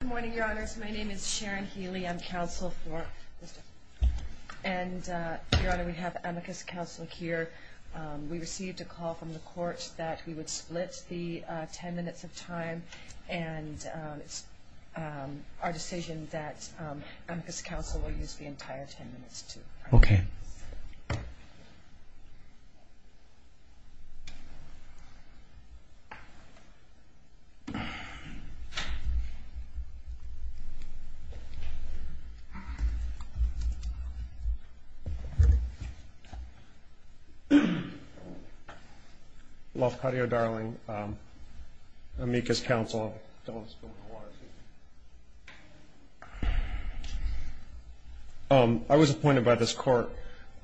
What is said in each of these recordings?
Good morning, Your Honors. My name is Sharon Healy. I'm counsel for Mr. Hapidudin. And, Your Honor, we have amicus counsel here. We received a call from the court that we would split the ten minutes of time, and it's our decision that amicus counsel will use the entire ten minutes, too. Okay. Lafcadio Darling, amicus counsel. I was appointed by this court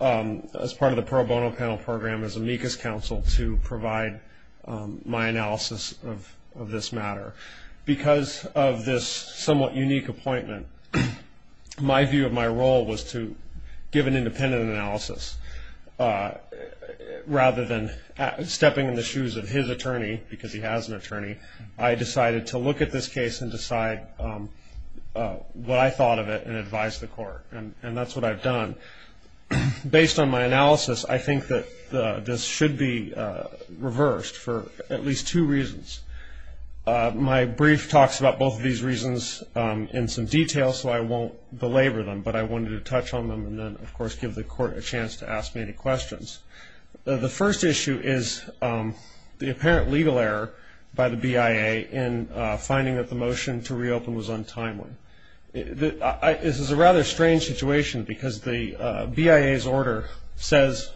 as part of the pro bono panel program as amicus counsel to provide my analysis of this matter. Because of this somewhat unique appointment, my view of my role was to give an independent analysis. Rather than stepping in the shoes of his attorney, because he has an attorney, I decided to look at this case and decide what I thought of it and advise the court. And that's what I've done. Based on my analysis, I think that this should be reversed for at least two reasons. My brief talks about both of these reasons in some detail, so I won't belabor them. But I wanted to touch on them and then, of course, give the court a chance to ask me any questions. The first issue is the apparent legal error by the BIA in finding that the motion to reopen was untimely. This is a rather strange situation because the BIA's order says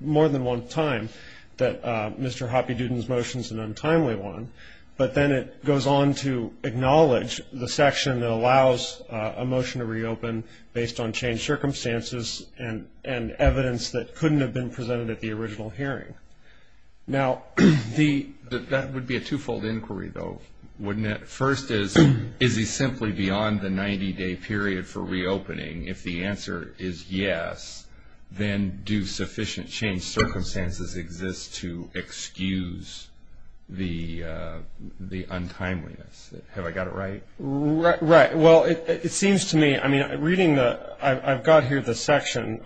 more than one time that Mr. Hoppe-Duden's motion is an untimely one. But then it goes on to acknowledge the section that allows a motion to reopen based on changed circumstances and evidence that couldn't have been presented at the original hearing. Now, that would be a twofold inquiry, though, wouldn't it? The first is, is he simply beyond the 90-day period for reopening? If the answer is yes, then do sufficient changed circumstances exist to excuse the untimeliness? Have I got it right? Right. Well, it seems to me, I mean, reading the – I've got here the section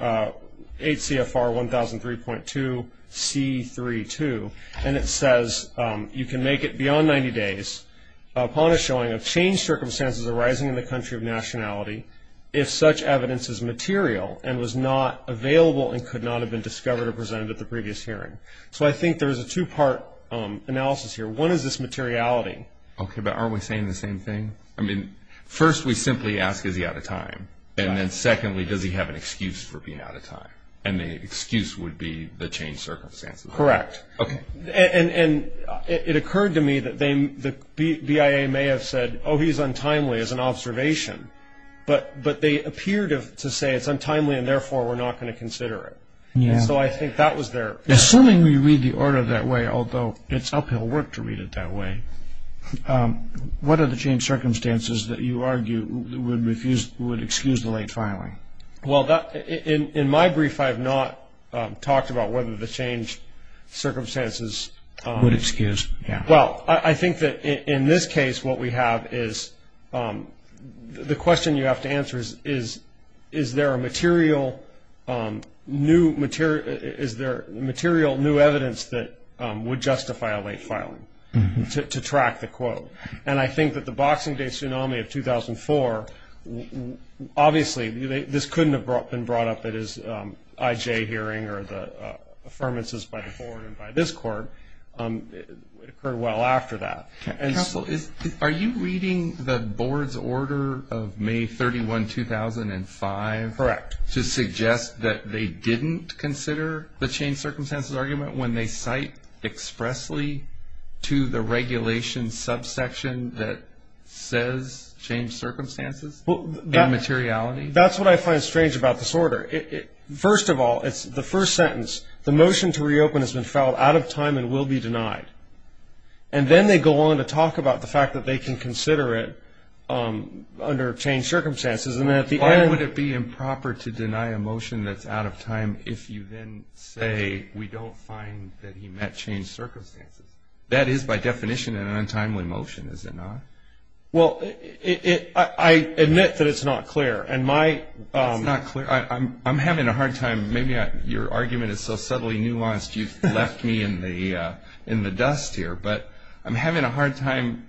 8 C.F.R. 1003.2 C.3.2, and it says you can make it beyond 90 days upon a showing of changed circumstances arising in the country of nationality if such evidence is material and was not available and could not have been discovered or presented at the previous hearing. So I think there is a two-part analysis here. One is this materiality. Okay, but aren't we saying the same thing? I mean, first we simply ask, is he out of time? And then secondly, does he have an excuse for being out of time? And the excuse would be the changed circumstances. Correct. Okay. And it occurred to me that the BIA may have said, oh, he's untimely as an observation, but they appeared to say it's untimely and therefore we're not going to consider it. And so I think that was their answer. Assuming we read the order that way, although it's uphill work to read it that way, what are the changed circumstances that you argue would excuse the late filing? Well, in my brief I have not talked about whether the changed circumstances. Would excuse, yeah. Well, I think that in this case what we have is the question you have to answer is, is there a material new evidence that would justify a late filing to track the quote? And I think that the Boxing Day tsunami of 2004, obviously, this couldn't have been brought up at his IJ hearing or the affirmances by the board and by this court. It occurred well after that. Counsel, are you reading the board's order of May 31, 2005? Correct. To suggest that they didn't consider the changed circumstances argument when they cite expressly to the regulation subsection that says changed circumstances and materiality? That's what I find strange about this order. First of all, the first sentence, the motion to reopen has been filed out of time and will be denied. And then they go on to talk about the fact that they can consider it under changed circumstances. Why would it be improper to deny a motion that's out of time if you then say we don't find that he met changed circumstances? That is by definition an untimely motion, is it not? Well, I admit that it's not clear. It's not clear. I'm having a hard time. Maybe your argument is so subtly nuanced you've left me in the dust here. But I'm having a hard time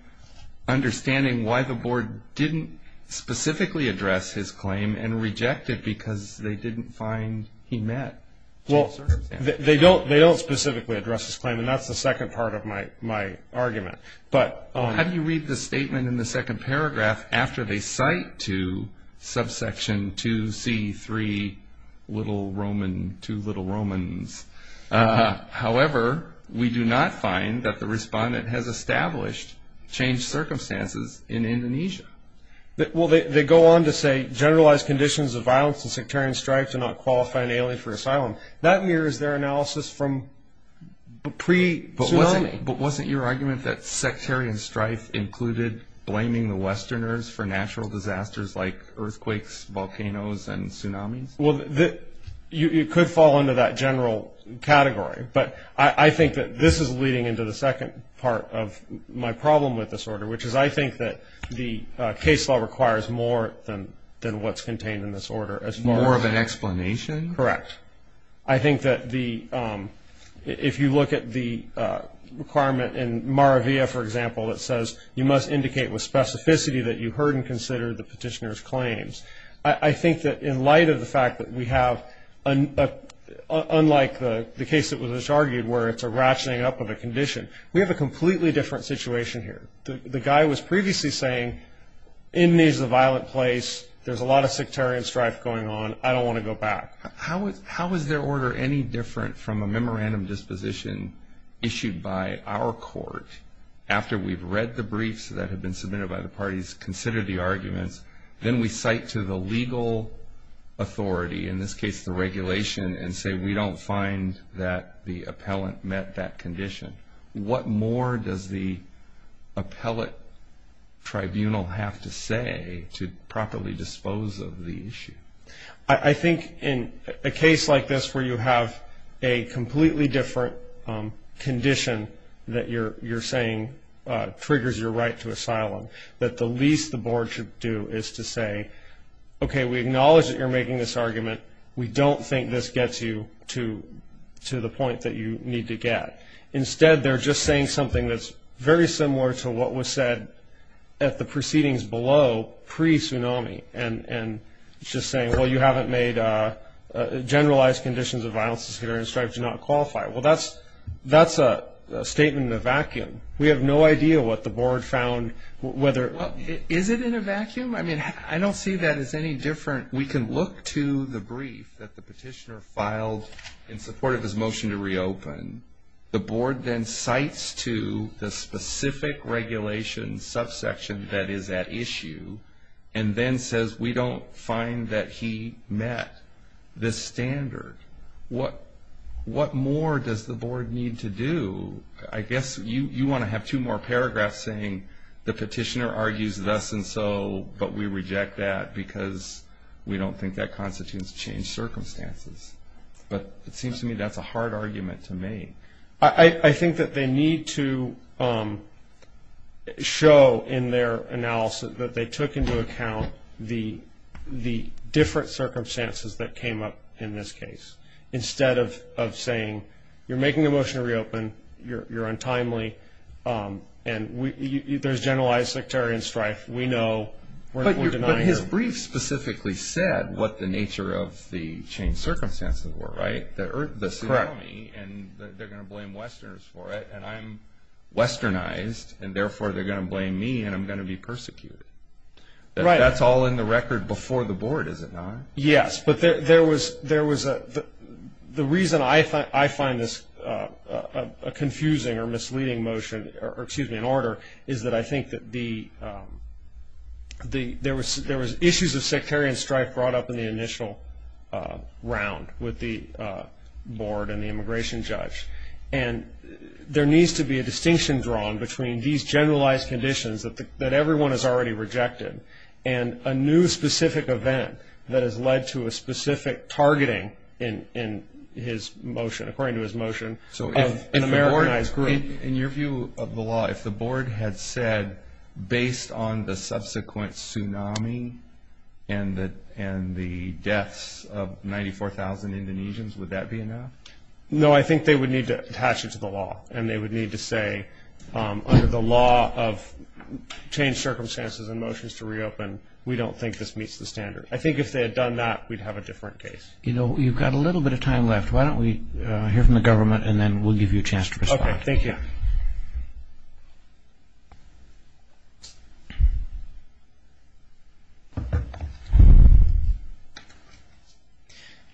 understanding why the board didn't specifically address his claim and reject it because they didn't find he met changed circumstances. Well, they don't specifically address his claim, and that's the second part of my argument. How do you read the statement in the second paragraph after they cite to subsection 2C3 little Roman, two little Romans, however we do not find that the respondent has established changed circumstances in Indonesia? Well, they go on to say generalized conditions of violence and sectarian strife do not qualify an alien for asylum. That mirrors their analysis from pre-tsunami. But wasn't your argument that sectarian strife included blaming the Westerners for natural disasters like earthquakes, volcanoes, and tsunamis? Well, you could fall into that general category, but I think that this is leading into the second part of my problem with this order, which is I think that the case law requires more than what's contained in this order. More of an explanation? Correct. I think that if you look at the requirement in Maravia, for example, it says you must indicate with specificity that you heard and considered the petitioner's claims. I think that in light of the fact that we have, unlike the case that was just argued where it's a ratcheting up of a condition, we have a completely different situation here. The guy was previously saying, Indonesia is a violent place. There's a lot of sectarian strife going on. I don't want to go back. How is their order any different from a memorandum disposition issued by our court after we've read the briefs that have been submitted by the parties, considered the arguments, then we cite to the legal authority, in this case the regulation, and say we don't find that the appellant met that condition? What more does the appellate tribunal have to say to properly dispose of the issue? I think in a case like this where you have a completely different condition that you're saying triggers your right to asylum, that the least the board should do is to say, okay, we acknowledge that you're making this argument. We don't think this gets you to the point that you need to get. Instead, they're just saying something that's very similar to what was said at the proceedings below, pre-tsunami, and just saying, well, you haven't made generalized conditions of violence, sectarian strife, do not qualify. Well, that's a statement in a vacuum. We have no idea what the board found. Is it in a vacuum? I mean, I don't see that as any different. We can look to the brief that the petitioner filed in support of his motion to reopen. The board then cites to the specific regulation subsection that is at issue and then says we don't find that he met this standard. What more does the board need to do? I guess you want to have two more paragraphs saying the petitioner argues thus and so, but we reject that because we don't think that constitutes changed circumstances. But it seems to me that's a hard argument to make. I think that they need to show in their analysis that they took into account the different circumstances that came up in this case. Instead of saying you're making a motion to reopen, you're untimely, and there's generalized sectarian strife, we know, we're denying you. But his brief specifically said what the nature of the changed circumstances were, right? The economy, and they're going to blame Westerners for it, and I'm Westernized, and therefore they're going to blame me and I'm going to be persecuted. That's all in the record before the board, is it not? Yes, but the reason I find this a confusing or misleading motion, or excuse me, an order, is that I think that there was issues of sectarian strife brought up in the initial round with the board and the immigration judge, and there needs to be a distinction drawn between these generalized conditions that everyone has already rejected and a new specific event that has led to a specific targeting in his motion, according to his motion, of an Americanized group. In your view of the law, if the board had said, based on the subsequent tsunami and the deaths of 94,000 Indonesians, would that be enough? No, I think they would need to attach it to the law, and they would need to say, under the law of changed circumstances and motions to reopen, we don't think this meets the standard. I think if they had done that, we'd have a different case. You've got a little bit of time left. Why don't we hear from the government, and then we'll give you a chance to respond. Thank you.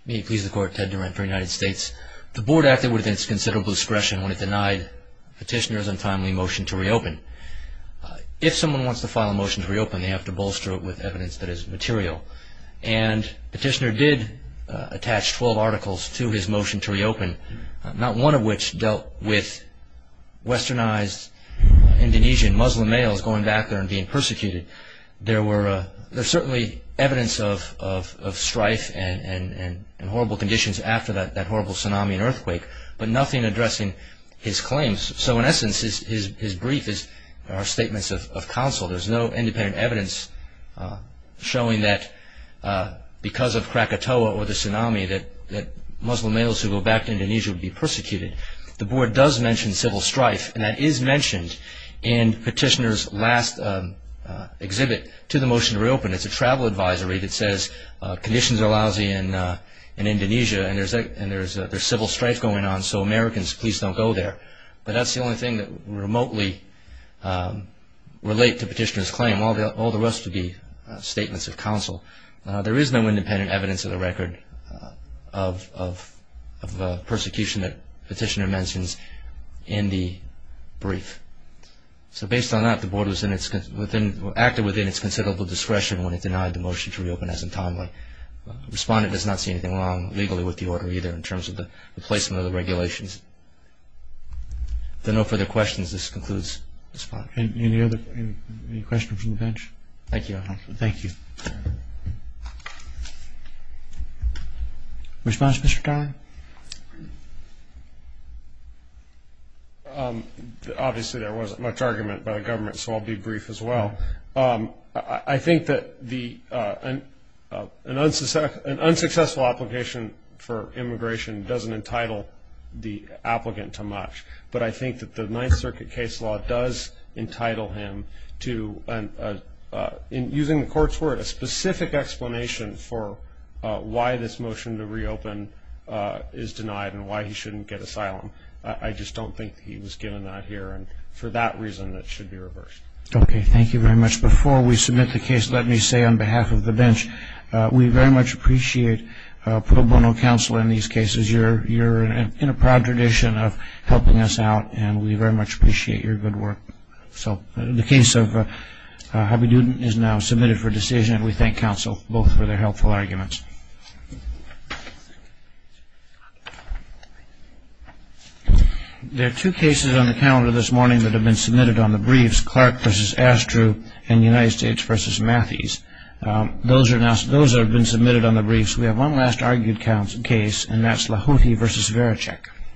May it please the Court, Ted Durant for the United States. The board acted within its considerable discretion when it denied Petitioner's untimely motion to reopen. If someone wants to file a motion to reopen, they have to bolster it with evidence that is material, and Petitioner did attach 12 articles to his motion to reopen, not one of which dealt with westernized Indonesian Muslim males going back there and being persecuted. There's certainly evidence of strife and horrible conditions after that horrible tsunami and earthquake, but nothing addressing his claims. So in essence, his brief are statements of counsel. There's no independent evidence showing that because of Krakatoa or the tsunami, that Muslim males who go back to Indonesia would be persecuted. The board does mention civil strife, and that is mentioned in Petitioner's last exhibit to the motion to reopen. It's a travel advisory that says conditions are lousy in Indonesia and there's civil strife going on, so Americans, please don't go there. But that's the only thing that remotely relates to Petitioner's claim. All the rest would be statements of counsel. There is no independent evidence of the record of the persecution that Petitioner mentions in the brief. So based on that, the board acted within its considerable discretion when it denied the motion to reopen as untimely. Respondent does not see anything wrong legally with the order either in terms of the replacement of the regulations. If there are no further questions, this concludes the spot. Any questions from the bench? Thank you. Thank you. Response, Mr. Tyler? Obviously, there wasn't much argument by the government, so I'll be brief as well. I think that an unsuccessful application for immigration doesn't entitle the applicant to much, but I think that the Ninth Circuit case law does entitle him to, using the court's word, a specific explanation for why this motion to reopen is denied and why he shouldn't get asylum. I just don't think he was given that here, and for that reason, it should be reversed. Okay. Thank you very much. Before we submit the case, let me say on behalf of the bench, we very much appreciate pro bono counsel in these cases. You're in a proud tradition of helping us out, and we very much appreciate your good work. So the case of Habibuddin is now submitted for decision, and we thank counsel both for their helpful arguments. There are two cases on the calendar this morning that have been submitted on the briefs, Clark v. Astrew and United States v. Matthys. Those have been submitted on the briefs. We have one last argued case, and that's Lahouti v. Varachek.